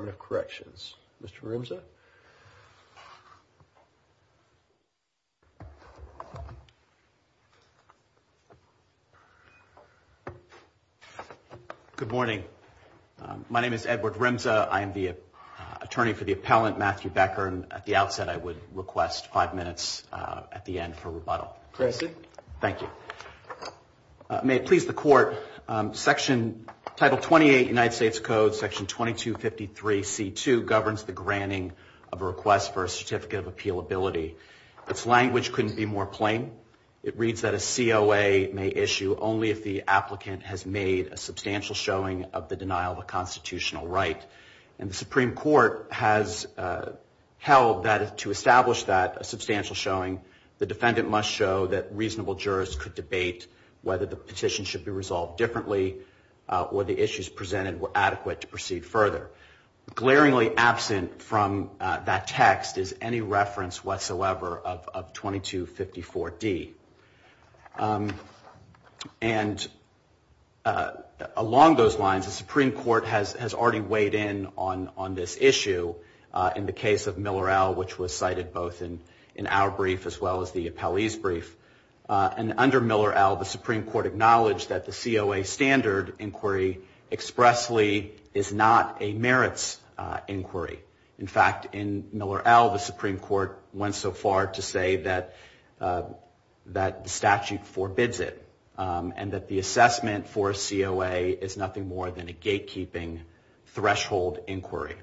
of Corrections. Mr. Rimza. Good morning. My name is Edward Rimza. I am the attorney for Matthew Becker, and at the outset I would request five minutes at the end for rebuttal. Thank you. May it please the Court, Section Title 28, United States Code, Section 2253C2 governs the granting of a request for a certificate of appealability. Its language couldn't be more plain. It reads that a COA may issue only if the applicant has made a petition that has held that to establish that a substantial showing, the defendant must show that reasonable jurors could debate whether the petition should be resolved differently or the issues presented were adequate to proceed further. Glaringly absent from that text is any reference whatsoever of 2254D. And along those lines, the Supreme Court has already weighed in on this issue in the case of Miller-El, which was cited both in our brief as well as the appellee's brief. And under Miller-El, the Supreme Court acknowledged that the COA standard inquiry expressly is not a merits inquiry. In fact, in Miller-El, the Supreme Court went so far to say that the statute forbids it and that the assessment for a COA is nothing more than a gatekeeping threshold inquiry.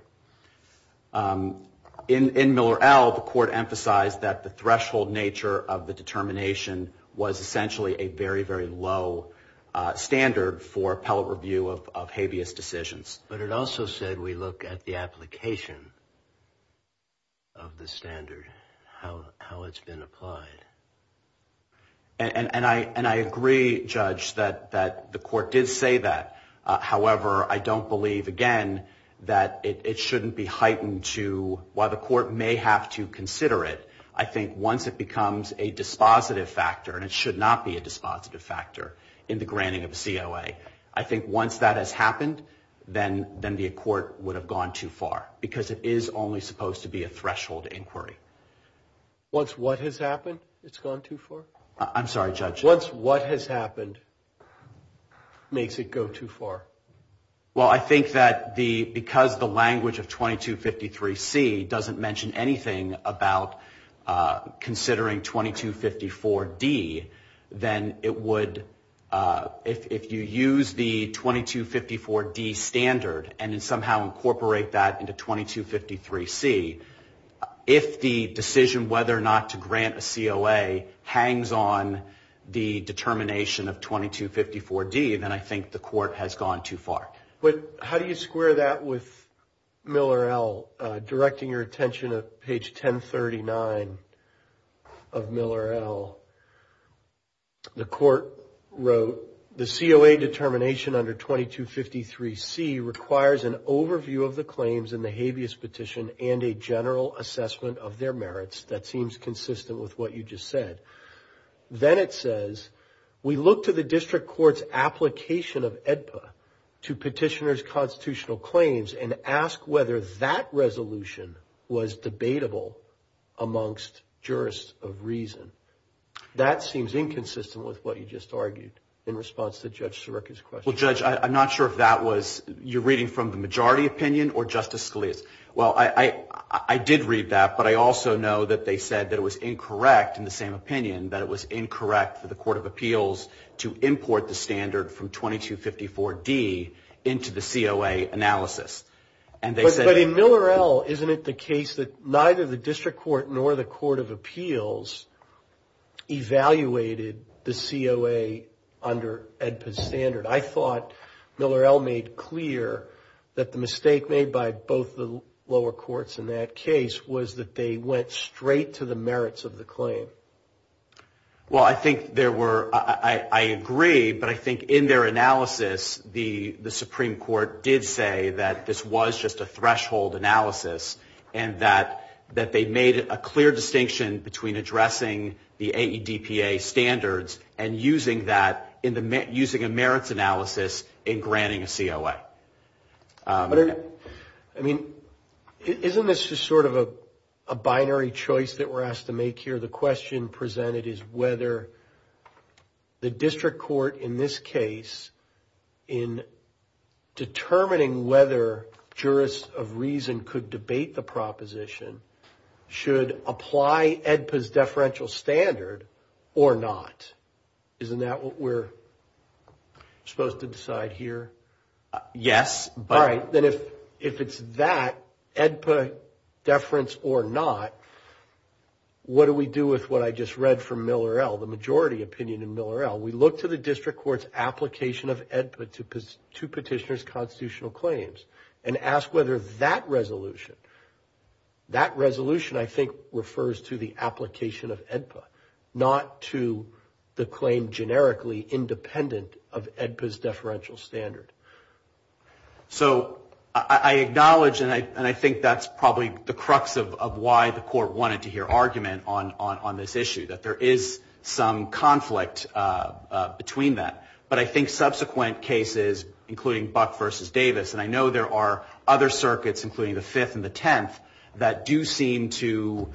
In Miller-El, the Court emphasized that the threshold nature of the determination was essentially a very, very low standard for appellate review of habeas decisions. But it also said we look at the application of the standard, how it's been applied. And I agree, Judge, that the Court did say that. However, I don't believe, again, that it shouldn't be heightened to while the Court may have to consider it, I think once it becomes a dispositive factor, and it should not be a dispositive factor in the granting of a COA, I think once that has happened, then the Court would have gone too far because it is only supposed to be a threshold inquiry. Once what has happened, it's gone too far? I'm sorry, Judge. Once what has happened makes it go too far? Well, I think that because the language of 2253C doesn't mention anything about considering 2254D, then it would, if you use the 2254D standard and somehow incorporate that into 2253C, if the decision whether or not to grant a COA hangs on the determination of 2254D, then I think the Court has gone too far. But how do you square that with Miller-El? Directing your attention to page 1039 of Miller-El, the Court wrote, the COA determination under 2253C requires an overview of the claims in the habeas petition and a general assessment of their merits. That seems consistent with what you just said. Then it says, we look to the District Court's application of AEDPA to petitioners' constitutional claims and ask whether that resolution was debatable amongst jurists of reason. That seems inconsistent with what you just argued in response to Judge Sareka's question. Well, Judge, I'm not sure if that was, you're reading from the majority opinion or Justice Scalia's. Well, I did read that, but I also know that they said that it was incorrect, in the same opinion, that it was incorrect for the Court of Appeals to import the standard from 2254D into the COA analysis. But in Miller-El, isn't it the case that neither the District Court nor the Court of Appeals evaluated the COA under AEDPA's standard? I thought it was clear that the mistake made by both the lower courts in that case was that they went straight to the merits of the claim. Well, I think there were, I agree, but I think in their analysis, the Supreme Court did say that this was just a threshold analysis and that they made a clear distinction between addressing the AEDPA standards and using that, using a merits analysis to determine whether the claim was ineligible for the COA analysis in granting a COA. I mean, isn't this just sort of a binary choice that we're asked to make here? The question presented is whether the District Court in this case, in determining whether jurists of reason could debate the proposition, should apply AEDPA's deferential standard or not? Isn't that what we're supposed to decide? Yes. All right, then if it's that, AEDPA deference or not, what do we do with what I just read from Miller-El, the majority opinion in Miller-El? We look to the District Court's application of AEDPA to petitioner's constitutional claims and ask whether that resolution, that resolution I think refers to the application of AEDPA, not to the claim generically independent of AEDPA's deferential standard. So I acknowledge and I think that's probably the crux of why the court wanted to hear argument on this issue, that there is some conflict between that. But I think subsequent cases, including Buck v. Davis, and I know there are other circuits, including the Fifth and the Tenth, that do seem to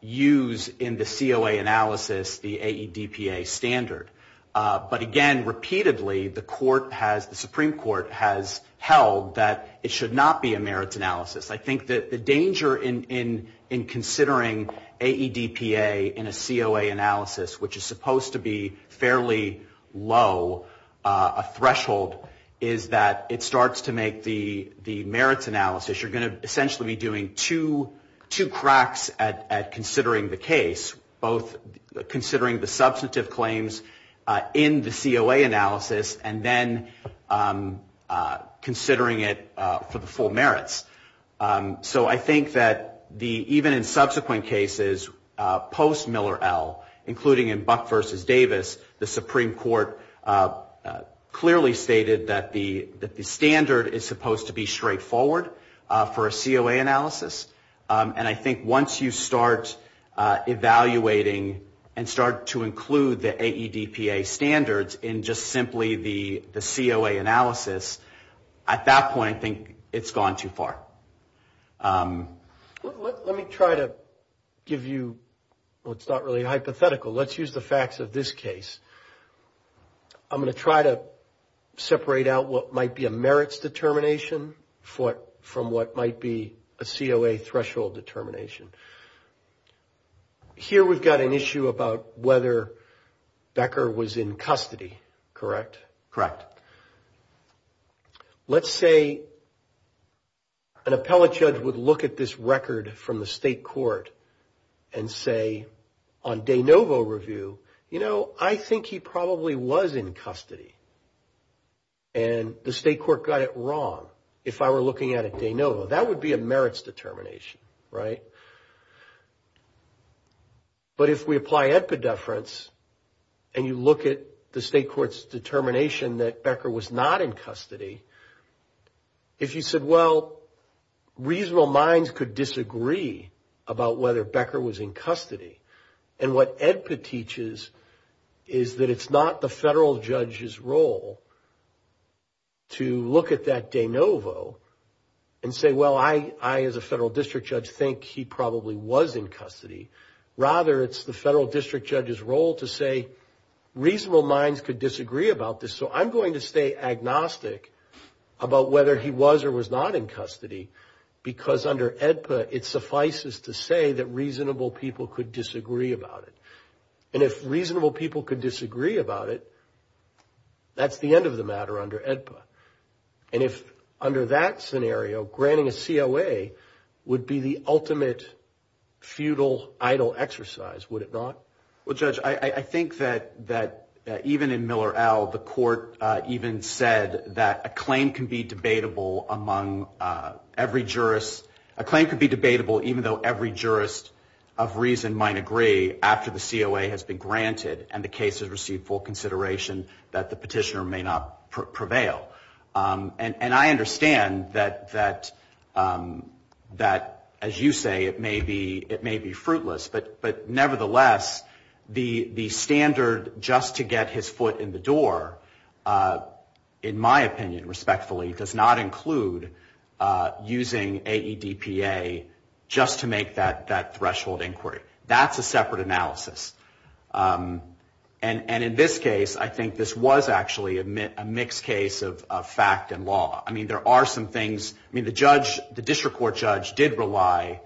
use in the COA analysis the AEDPA standard. But again, repeatedly, the court has, the Supreme Court has held that it should not be a merits analysis. I think that the danger in considering AEDPA in a COA analysis, which is supposed to be fairly low, a threshold, is that it starts to make the merits analysis, you're considering the substantive claims in the COA analysis and then considering it for the full merits. So I think that the, even in subsequent cases, post-Miller-El, including in Buck v. Davis, the Supreme Court clearly stated that the standard is supposed to be straightforward for a COA analysis. And I think once you start evaluating and start to include the AEDPA standards in just simply the COA analysis, at that point, I think it's gone too far. Let me try to give you, well, it's not really hypothetical. Let's use the facts of this case. I'm going to try to separate out what might be a merits determination from what might be a COA threshold determination. Here we've got an issue about whether Becker was in custody, correct? Correct. Let's say an appellate judge would look at this record from the state court and say, on de novo review, you know, I think he probably was in custody and I'm not sure I would have that wrong if I were looking at it de novo. That would be a merits determination, right? But if we apply AEDPA deference and you look at the state court's determination that Becker was not in custody, if you said, well, reasonable minds could disagree about whether Becker was in custody. And what AEDPA teaches is that it's not the federal judge's role to look at that and say, well, the federal judge was not in custody. Rather, it's the federal district judge's role to say, reasonable minds could disagree about this. So I'm going to stay agnostic about whether he was or was not in custody because under AEDPA, it suffices to say that reasonable people could disagree about it. And if you look at the state court's determination that Becker was not in custody, it suffices to say that reasonable people could disagree about this. And if under that scenario, granting a COA would be the ultimate futile, idle exercise, would it not? Well, Judge, I think that even in Miller-El, the court even said that a claim can be debatable among every jurist. A claim can be debatable even though every jurist of reason might agree after the COA has been passed. And I understand that, as you say, it may be fruitless. But nevertheless, the standard just to get his foot in the door, in my opinion, respectfully, does not include using AEDPA just to make that threshold inquiry. That's a separate analysis. And in this case, I think this was actually a mixed case of fact and law. I mean, there are some things, I mean, the judge, the district court judge did rely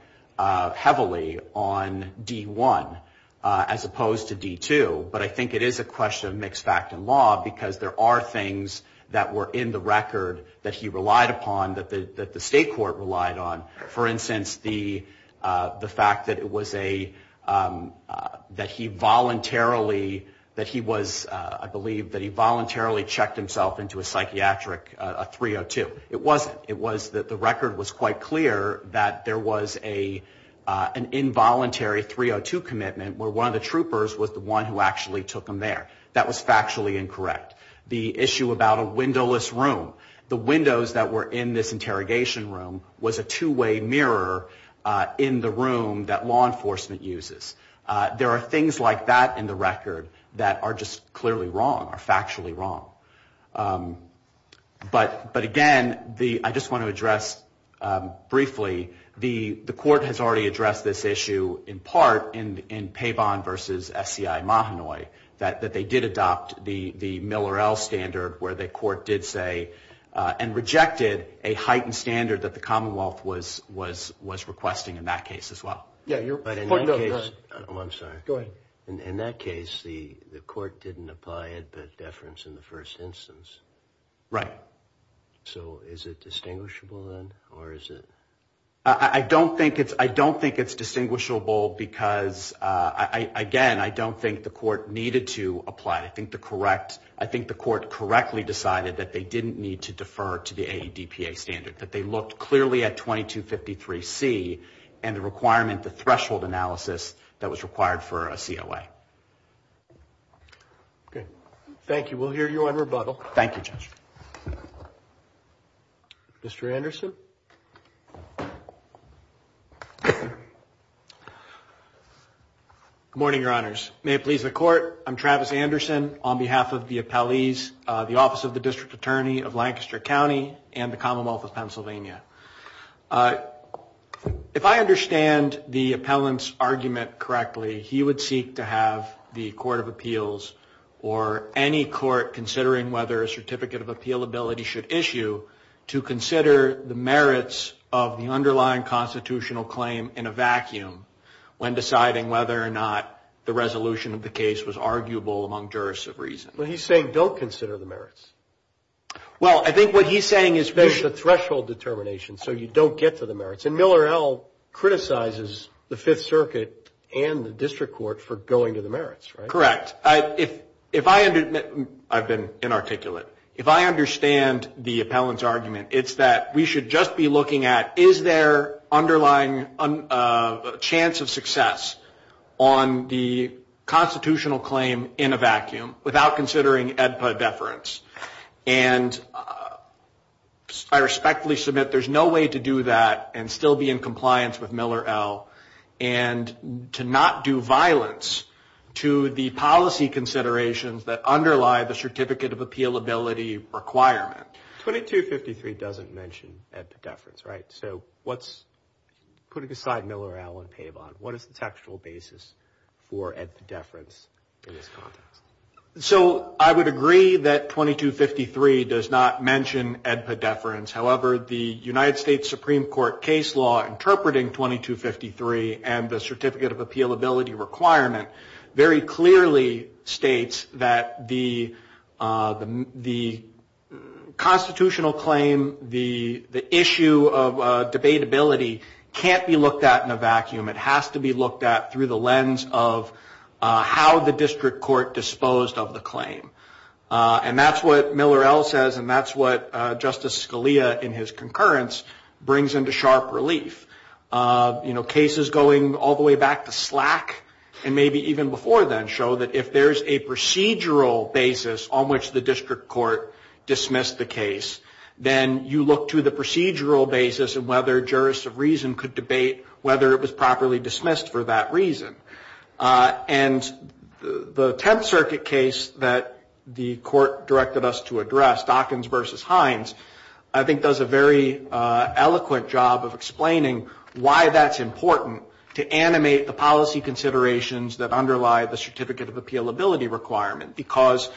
heavily on D-1 as opposed to D-2. But I think it is a question of mixed fact and law because there are things that were in the record that he relied upon, that the state court relied on. For instance, the fact that it was a, that he voluntarily, that he was, I believe, that he voluntarily, that he voluntarily checked himself into a psychiatric, a 302. It wasn't. It was that the record was quite clear that there was an involuntary 302 commitment where one of the troopers was the one who actually took him there. That was factually incorrect. The issue about a windowless room, the windows that were in this interrogation room was a two-way mirror in the room that law enforcement uses. There are things like that in the record that are just factually wrong. But again, the, I just want to address briefly, the court has already addressed this issue in part in Paveon versus SCI Mahanoy, that they did adopt the Miller-El standard where the court did say and rejected a heightened standard that the Commonwealth was requesting in that case as well. But in that case, oh, I'm sorry. In that case, the court didn't apply it but deference in the first instance. Right. So is it distinguishable then or is it? I don't think it's, I don't think it's distinguishable because I, again, I don't think the court needed to apply it. I think the correct, I think the court correctly decided that they didn't need to defer to the AEDPA standard, that they looked clearly at 2253C and the requirement, the threshold analysis that was required for a COA. Okay. Thank you. We'll hear you on rebuttal. Thank you, Judge. Mr. Anderson. Good morning, Your Honors. May it please the court. I'm Travis Anderson. I'm a member of the Appellees, the Office of the District Attorney of Lancaster County and the Commonwealth of Pennsylvania. If I understand the appellant's argument correctly, he would seek to have the Court of Appeals or any court considering whether a certificate of appealability should issue to consider the merits of the underlying constitutional claim in a vacuum when deciding whether or not the resolution of the case was arguable among jurists of reason. Well, he's saying don't consider the merits. Well, I think what he's saying is base the threshold determination so you don't get to the merits. And Miller L. criticizes the Fifth Circuit and the District Court for going to the merits, right? Correct. If I, I've been inarticulate. If I understand the appellant's argument, it's that we should just be considering the constitutional claim in a vacuum without considering EDPA deference. And I respectfully submit there's no way to do that and still be in compliance with Miller L. and to not do violence to the policy considerations that underlie the certificate of appealability requirement. 2253 doesn't mention EDPA deference, right? So what's, putting aside Miller L. and Pavan, what is the textual basis for EDPA deference in this context? So I would agree that 2253 does not mention EDPA deference. However, the United States Supreme Court case law interpreting 2253 and the certificate of appealability requirement very clearly states that the, the, the constitutional claim, the, the EDPA deference, the constitutional claim, the issue of debatability can't be looked at in a vacuum. It has to be looked at through the lens of how the District Court disposed of the claim. And that's what Miller L. says and that's what Justice Scalia in his concurrence brings into sharp relief. You know, cases going all the way back to SLAC and maybe even before then show that if there's a procedural basis on which the District Court dismissed the case, then you look to the procedural basis and whether jurists of reason could debate whether it was properly dismissed for that reason. And the Tenth Circuit case that the court directed us to address, Dawkins v. Hines, I think does a very eloquent job of explaining why that's important to animate the policy considerations that underlie the certificate of appealability requirement. Because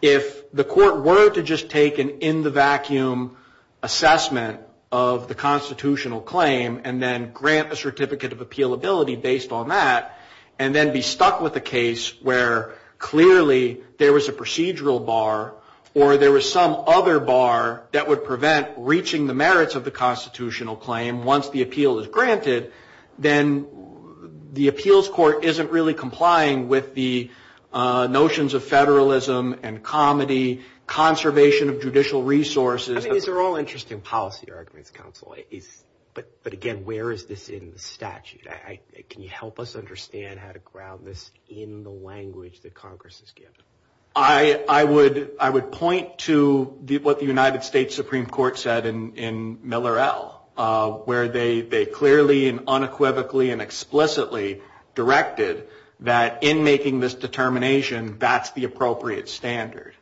if the court were to just take an in-the-vacuum assessment, of the constitutional claim, and then grant a certificate of appealability based on that, and then be stuck with a case where clearly there was a procedural bar or there was some other bar that would prevent reaching the merits of the constitutional claim once the appeal is granted, then the appeals court isn't really complying with the notions of federalism and comedy, conservation of judicial resources. I mean, these are all interesting policy arguments, counsel. But again, where is this in the statute? Can you help us understand how to ground this in the language that Congress has given? I would point to what the United States Supreme Court said in Miller-El, where they clearly and unequivocally and explicitly directed that in making this determination, that's the appropriate standard.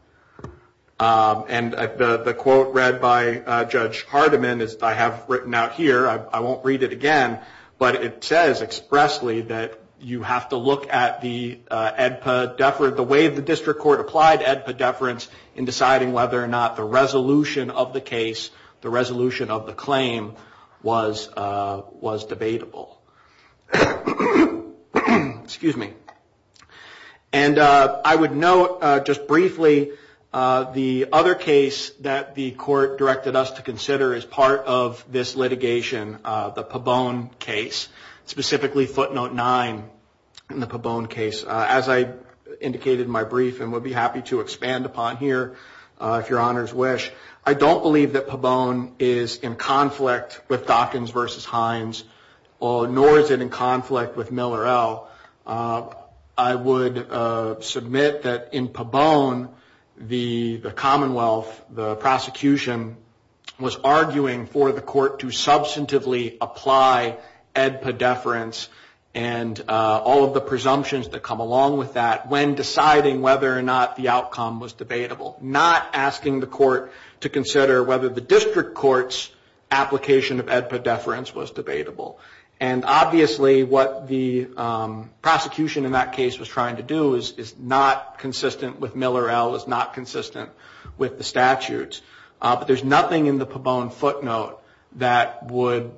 And the quote read, if the Supreme Court were to dismiss the case, the Supreme Court would have to dismiss the case. And the quote read by Judge Hardiman, as I have written out here, I won't read it again, but it says expressly that you have to look at the way the district court applied EDPA deference in deciding whether or not the resolution of the case, the resolution of the claim, was debatable. And I would note just briefly, the other case that the court, the case that the court, the case that the court, the case that the court, the case that the court directed us to consider as part of this litigation, the Pabon case, specifically footnote nine in the Pabon case. As I indicated in my brief and would be happy to expand upon here if your honors wish, I don't believe that Pabon is in conflict with Dockins v. Hines, nor is it in conflict with Miller-El. I would submit that in Pabon, the Commonwealth, the prosecution, the Supreme Court, the Supreme Court, the Supreme Court, the Supreme Court, the Supreme Court, the Supreme Court, the Supreme Court, the Supreme Court, the Supreme Court, the Supreme Court, the Supreme Court, was arguing for the court to substantively apply EDPA deference and all of the presumptions that come along with that when deciding whether or not the outcome was debatable. Not asking the court to consider whether the district court's application of EDPA deference was debatable. And obviously what the prosecution in that case was trying to do is not consistent with Miller-El, is not consistent with the statutes. But there's nothing in the Pabon footnote that would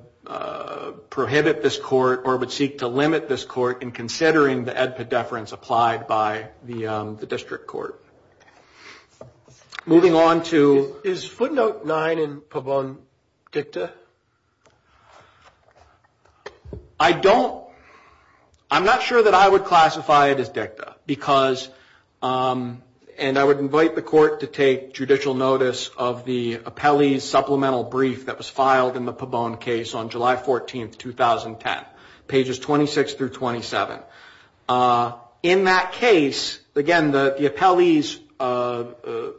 prohibit this court or would seek to limit this court in considering the EDPA deference applied by the district court. Moving on to... Is footnote nine in Pabon dicta? I don't, I'm not sure that I would classify it as dicta. Because, and I would invite the court to take judicial notice of the appellate supplemental brief that was filed in the Pabon case on July 14, 2010, pages 26 through 27. In that case, again, the appellees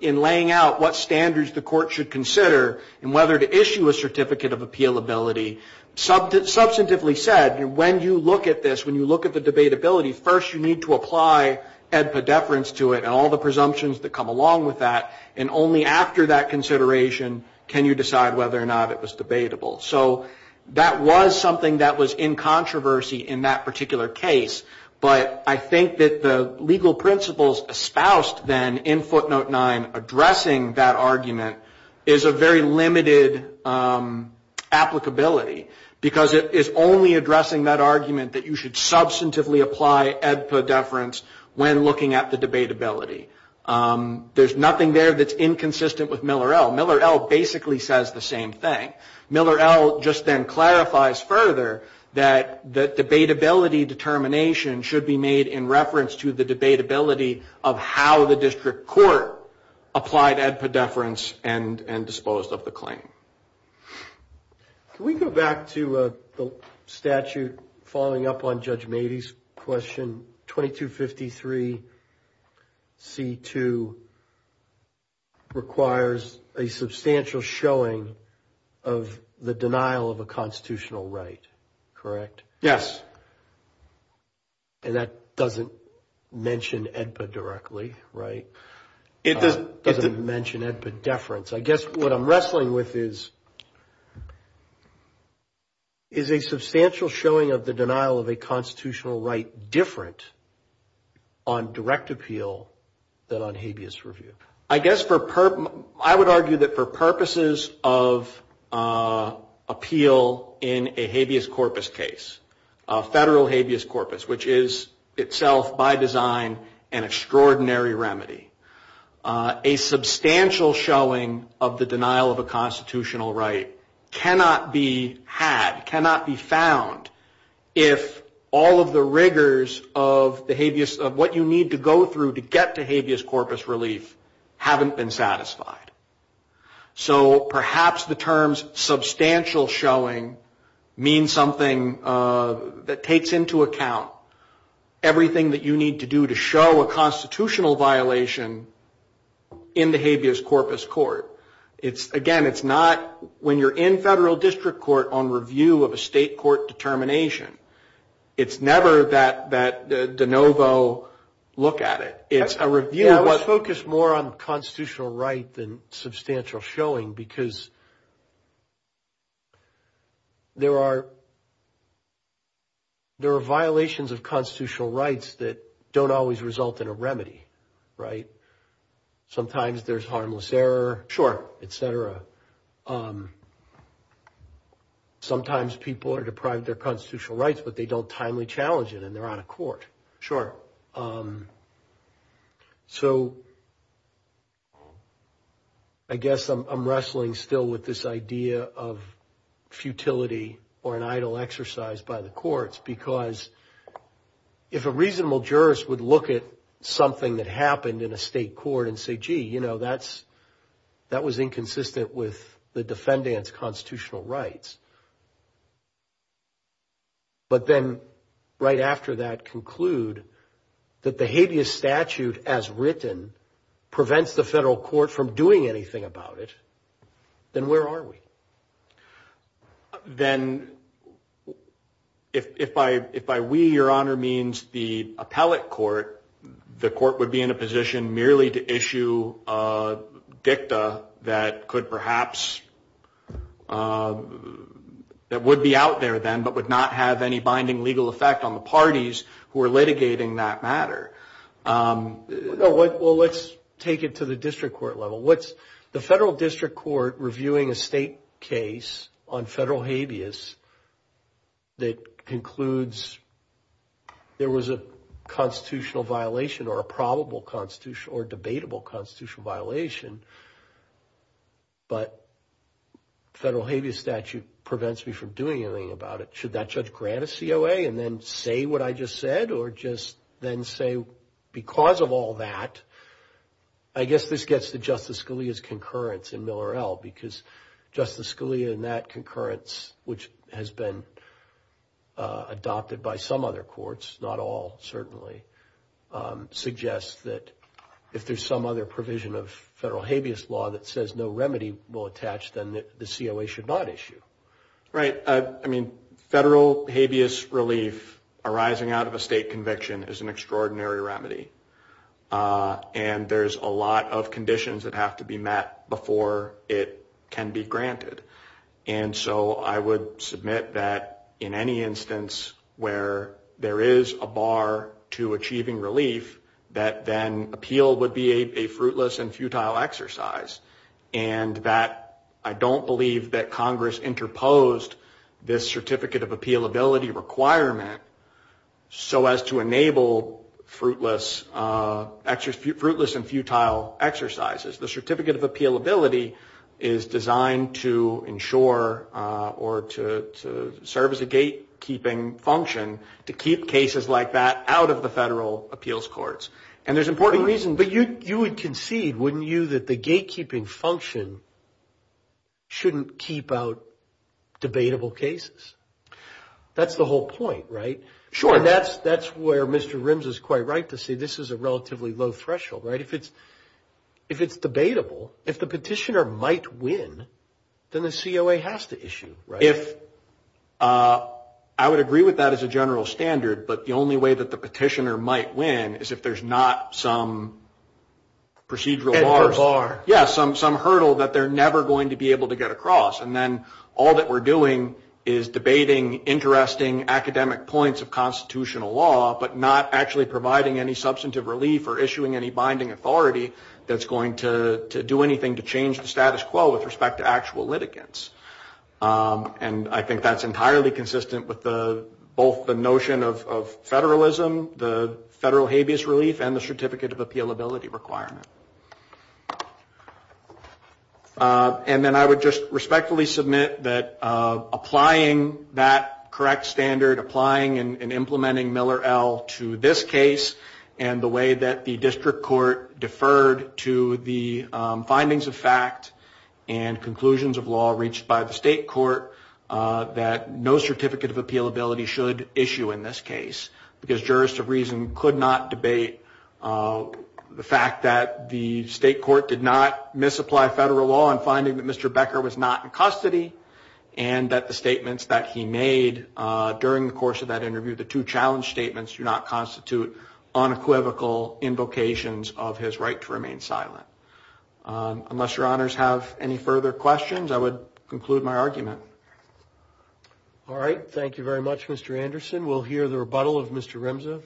in laying out what standards the court should consider and whether to issue a certificate of appealability, substantively said, when you look at this, when you look at the debatability, first you need to apply EDPA deference to it and all the presumptions that come along with that. And only after that consideration can you decide whether or not it was debatable. So that was something that was in controversy in that particular case. But I think that the legal principles espoused then in footnote nine addressing that argument is a very limited applicability, because it is only addressing that argument that you should substantively apply EDPA deference when looking at the debatability. There's nothing there that's inconsistent with Miller-El. Miller-El basically says the same thing. Miller-El just then clarifies further that the debatability determination should be made in reference to the debatability of how the district court applied EDPA deference and disposed of the claim. Can we go back to the statute following up on Judge Mabee's question, 2253C2. It requires a substantial showing of the denial of a constitutional right, correct? Yes. And that doesn't mention EDPA directly, right? It doesn't mention EDPA deference. I guess what I'm wrestling with is, is a substantial showing of the denial of a constitutional right different on direct appeal than on habeas review? I guess for, I would argue that for purposes of appeal in a habeas corpus case, federal habeas corpus, which is itself by design an extraordinary remedy, a substantial showing of the denial of a constitutional right cannot be had, cannot be found if all of the rigors of the habeas, of what you need to go through to get to habeas corpus relief haven't been satisfied. So perhaps the terms substantial showing mean something that takes into account everything that you need to do to show a constitutional violation in the habeas corpus court. It's, again, it's not, when you're in federal district court on review of a state court determination, it's never that de novo look at it. It's a review. I would focus more on constitutional right than substantial showing because there are violations of constitutional rights that don't always result in a remedy, right? Sometimes there's harmless error, et cetera. Sometimes people are deprived of their constitutional rights, but they don't timely challenge it and they're out of court. Sure. So I guess I'm wrestling still with this idea of futility or an idle exercise by the courts because if a reasonable jurist would look at something that happened in a state court and say, gee, that was inconsistent with the defendant's constitutional rights, but then right after that conclude that the habeas statute as written prevents the federal court from doing anything about it, then where are we? Then if by we, your honor, means the appellate court, the court would be in a position merely to issue a dicta that could perhaps, that would be out there then, but would not have any binding legal effect on the parties who are litigating that matter. Well, let's take it to the district court level. The federal district court reviewing a state case on federal habeas that concludes there was a constitutional violation or a probable constitutional or debatable constitutional violation, but federal habeas statute prevents me from doing anything about it. Should that judge grant a COA and then say what I just said or just then say because of all that? I guess this gets to Justice Scalia's concurrence in Miller-El because Justice Scalia in that concurrence, which has been adopted by some other courts, not all certainly, suggests that if there's some other provision of federal habeas law that says no to a state conviction, then that would be an extraordinary remedy. Right. I mean, federal habeas relief arising out of a state conviction is an extraordinary remedy. And there's a lot of conditions that have to be met before it can be granted. And so I would submit that in any instance where there is a bar to achieving relief, that then appeal would be a fruitless and futile exercise. And that I don't believe that Congress interposed the federal habeas relief. I don't believe that Congress interposed this certificate of appealability requirement so as to enable fruitless and futile exercises. The certificate of appealability is designed to ensure or to serve as a gatekeeping function to keep cases like that out of the federal appeals courts. And there's important reasons. But you would concede, wouldn't you, that the gatekeeping function shouldn't keep out cases like that? That's the whole point, right? Sure. And that's where Mr. Rims is quite right to say this is a relatively low threshold, right? If it's debatable, if the petitioner might win, then the COA has to issue, right? If, I would agree with that as a general standard, but the only way that the petitioner might win is if there's not some procedural bar, yes, some hurdle that they're never going to be able to get across. And then all that we're doing is trying to get across the hurdle. And all that we're doing is debating interesting academic points of constitutional law, but not actually providing any substantive relief or issuing any binding authority that's going to do anything to change the status quo with respect to actual litigants. And I think that's entirely consistent with both the notion of federalism, the federal habeas relief, and the certificate of appealability requirement. And then I would just respectfully submit that the statute of limitations, the statute of limitations, applying that correct standard, applying and implementing Miller L to this case, and the way that the district court deferred to the findings of fact and conclusions of law reached by the state court, that no certificate of appealability should issue in this case. Because jurists of reason could not debate the fact that the state court did not misapply federal law in this case, that Mr. Becker was not in custody, and that the statements that he made during the course of that interview, the two challenge statements, do not constitute unequivocal invocations of his right to remain silent. Unless your honors have any further questions, I would conclude my argument. All right. Thank you very much, Mr. Anderson. We'll hear the rebuttal of Mr. Rimza.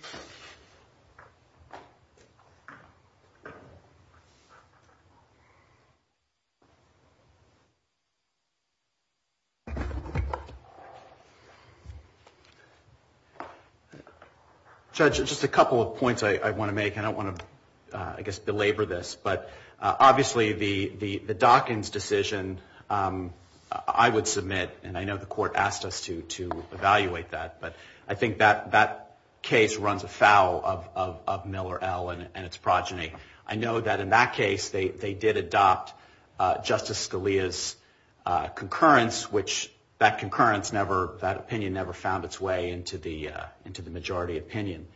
Judge, just a couple of points I want to make. I don't want to, I guess, belabor this, but obviously the Dawkins decision, I would submit, and I know the court asked us to evaluate that, but I think that case runs afoul of Miller L and its progeny. I know that in that case they did adopt Justice Scalia's concurrence, which that concurrence never, that opinion never found its way into the majority opinion.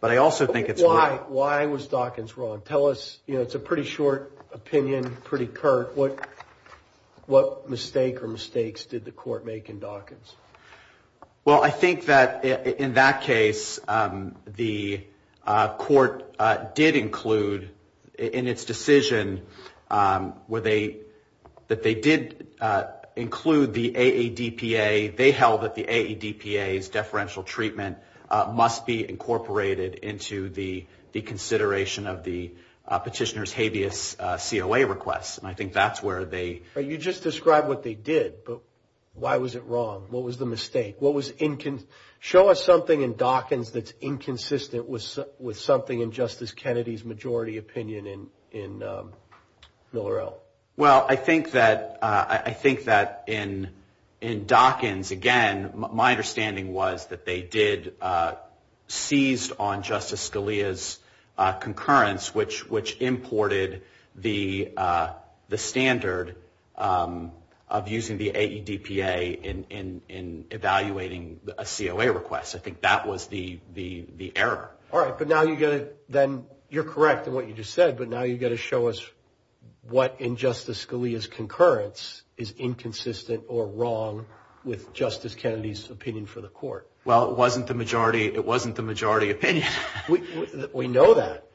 But I also think it's wrong. Why was Dawkins wrong? Tell us. It's a pretty short opinion, pretty curt. What mistake or mistakes did the court make in Dawkins? Well, I think that in that case, the court did include, in its decision, the fact that the court did not include the AADPA. They held that the AADPA's deferential treatment must be incorporated into the consideration of the petitioner's habeas COA requests. And I think that's where they... You just described what they did, but why was it wrong? What was the mistake? What was inconsistent? Show us something in Dawkins that's inconsistent with something in Justice Kennedy's majority opinion in Dawkins. Well, I think that in Dawkins, again, my understanding was that they did seize on Justice Scalia's concurrence, which imported the standard of using the AADPA in evaluating a COA request. I think that was the error. All right, but now you're correct in what you just said, but now you've got to show us something that's inconsistent. Show us what in Justice Scalia's concurrence is inconsistent or wrong with Justice Kennedy's opinion for the court. Well, it wasn't the majority opinion. We know that.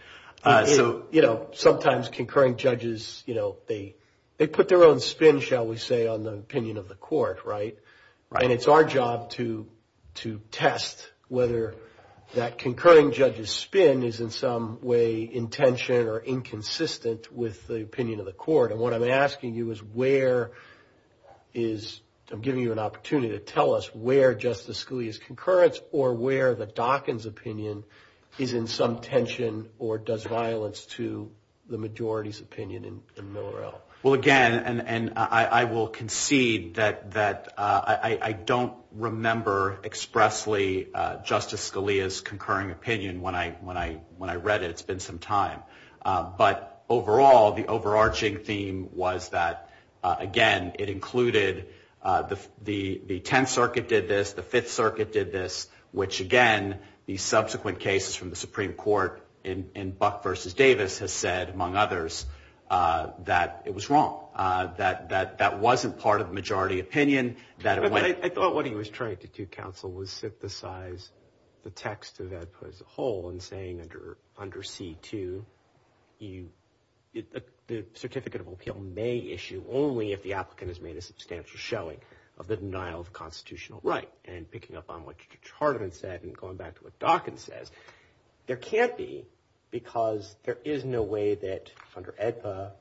Sometimes, concurring judges, they put their own spin, shall we say, on the opinion of the court, right? And it's our job to test whether that concurring judge's spin is in some way intention or inconsistent with Justice Kennedy's opinion or inconsistent with the opinion of the court. And what I'm asking you is where is... I'm giving you an opportunity to tell us where Justice Scalia's concurrence or where the Dawkins opinion is in some tension or does violence to the majority's opinion in Miller-El. Well, again, and I will concede that I don't remember expressly Justice Scalia's concurring opinion when I read it. It's been some time. But overall, the overarching theme was that, again, it included the Tenth Circuit did this, the Fifth Circuit did this, which, again, the subsequent cases from the Supreme Court in Buck v. Davis has said, among others, that it was wrong, that that wasn't part of the majority opinion. I thought what he was trying to do, counsel, was synthesize the text of that as a whole in saying under C-2, that the majority opinion, that the certificate of appeal may issue only if the applicant has made a substantial showing of the denial of constitutional right. And picking up on what Judge Hardiman said and going back to what Dawkins says, there can't be because there is no way that under AEDPA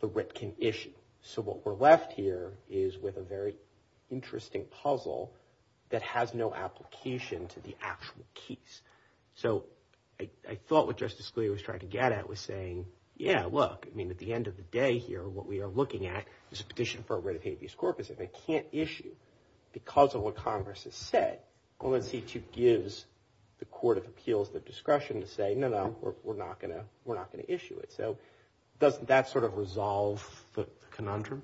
the writ can issue. So what we're left here is with a very interesting puzzle that has no application to the actual case. So I thought what Justice Scalia was trying to get at was saying, yeah, look, I mean, at the end of the day here, what we are looking at is a petition for a writ of habeas corpus. If it can't issue because of what Congress has said, unless C-2 gives the Court of Appeals the discretion to say, no, no, we're not going to issue it. So doesn't that sort of resolve the conundrum?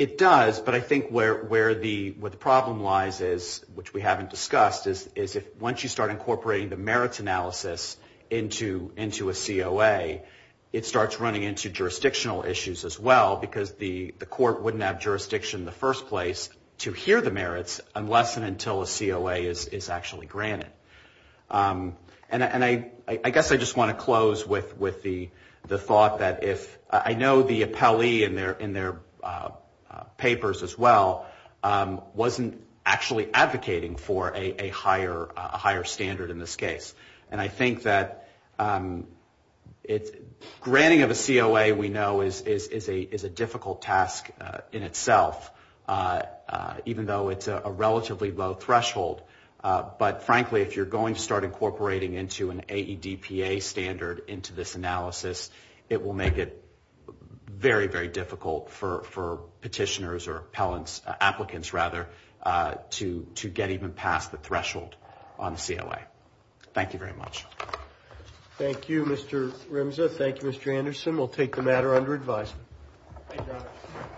It does. But I think where the problem lies is, which we haven't discussed, is if once you start inquiring about the merits analysis into a COA, it starts running into jurisdictional issues as well, because the Court wouldn't have jurisdiction in the first place to hear the merits unless and until a COA is actually granted. And I guess I just want to close with the thought that if I know the appellee in their papers as well wasn't actually advocating for a higher standard in this case, and I think that granting of a COA we know is a difficult task in itself, even though it's a relatively low threshold. But frankly, if you're going to start incorporating into an AEDPA standard into this analysis, it will make it very, very difficult for petitioners or appellants, applicants rather, to get even past the threshold. Thank you very much.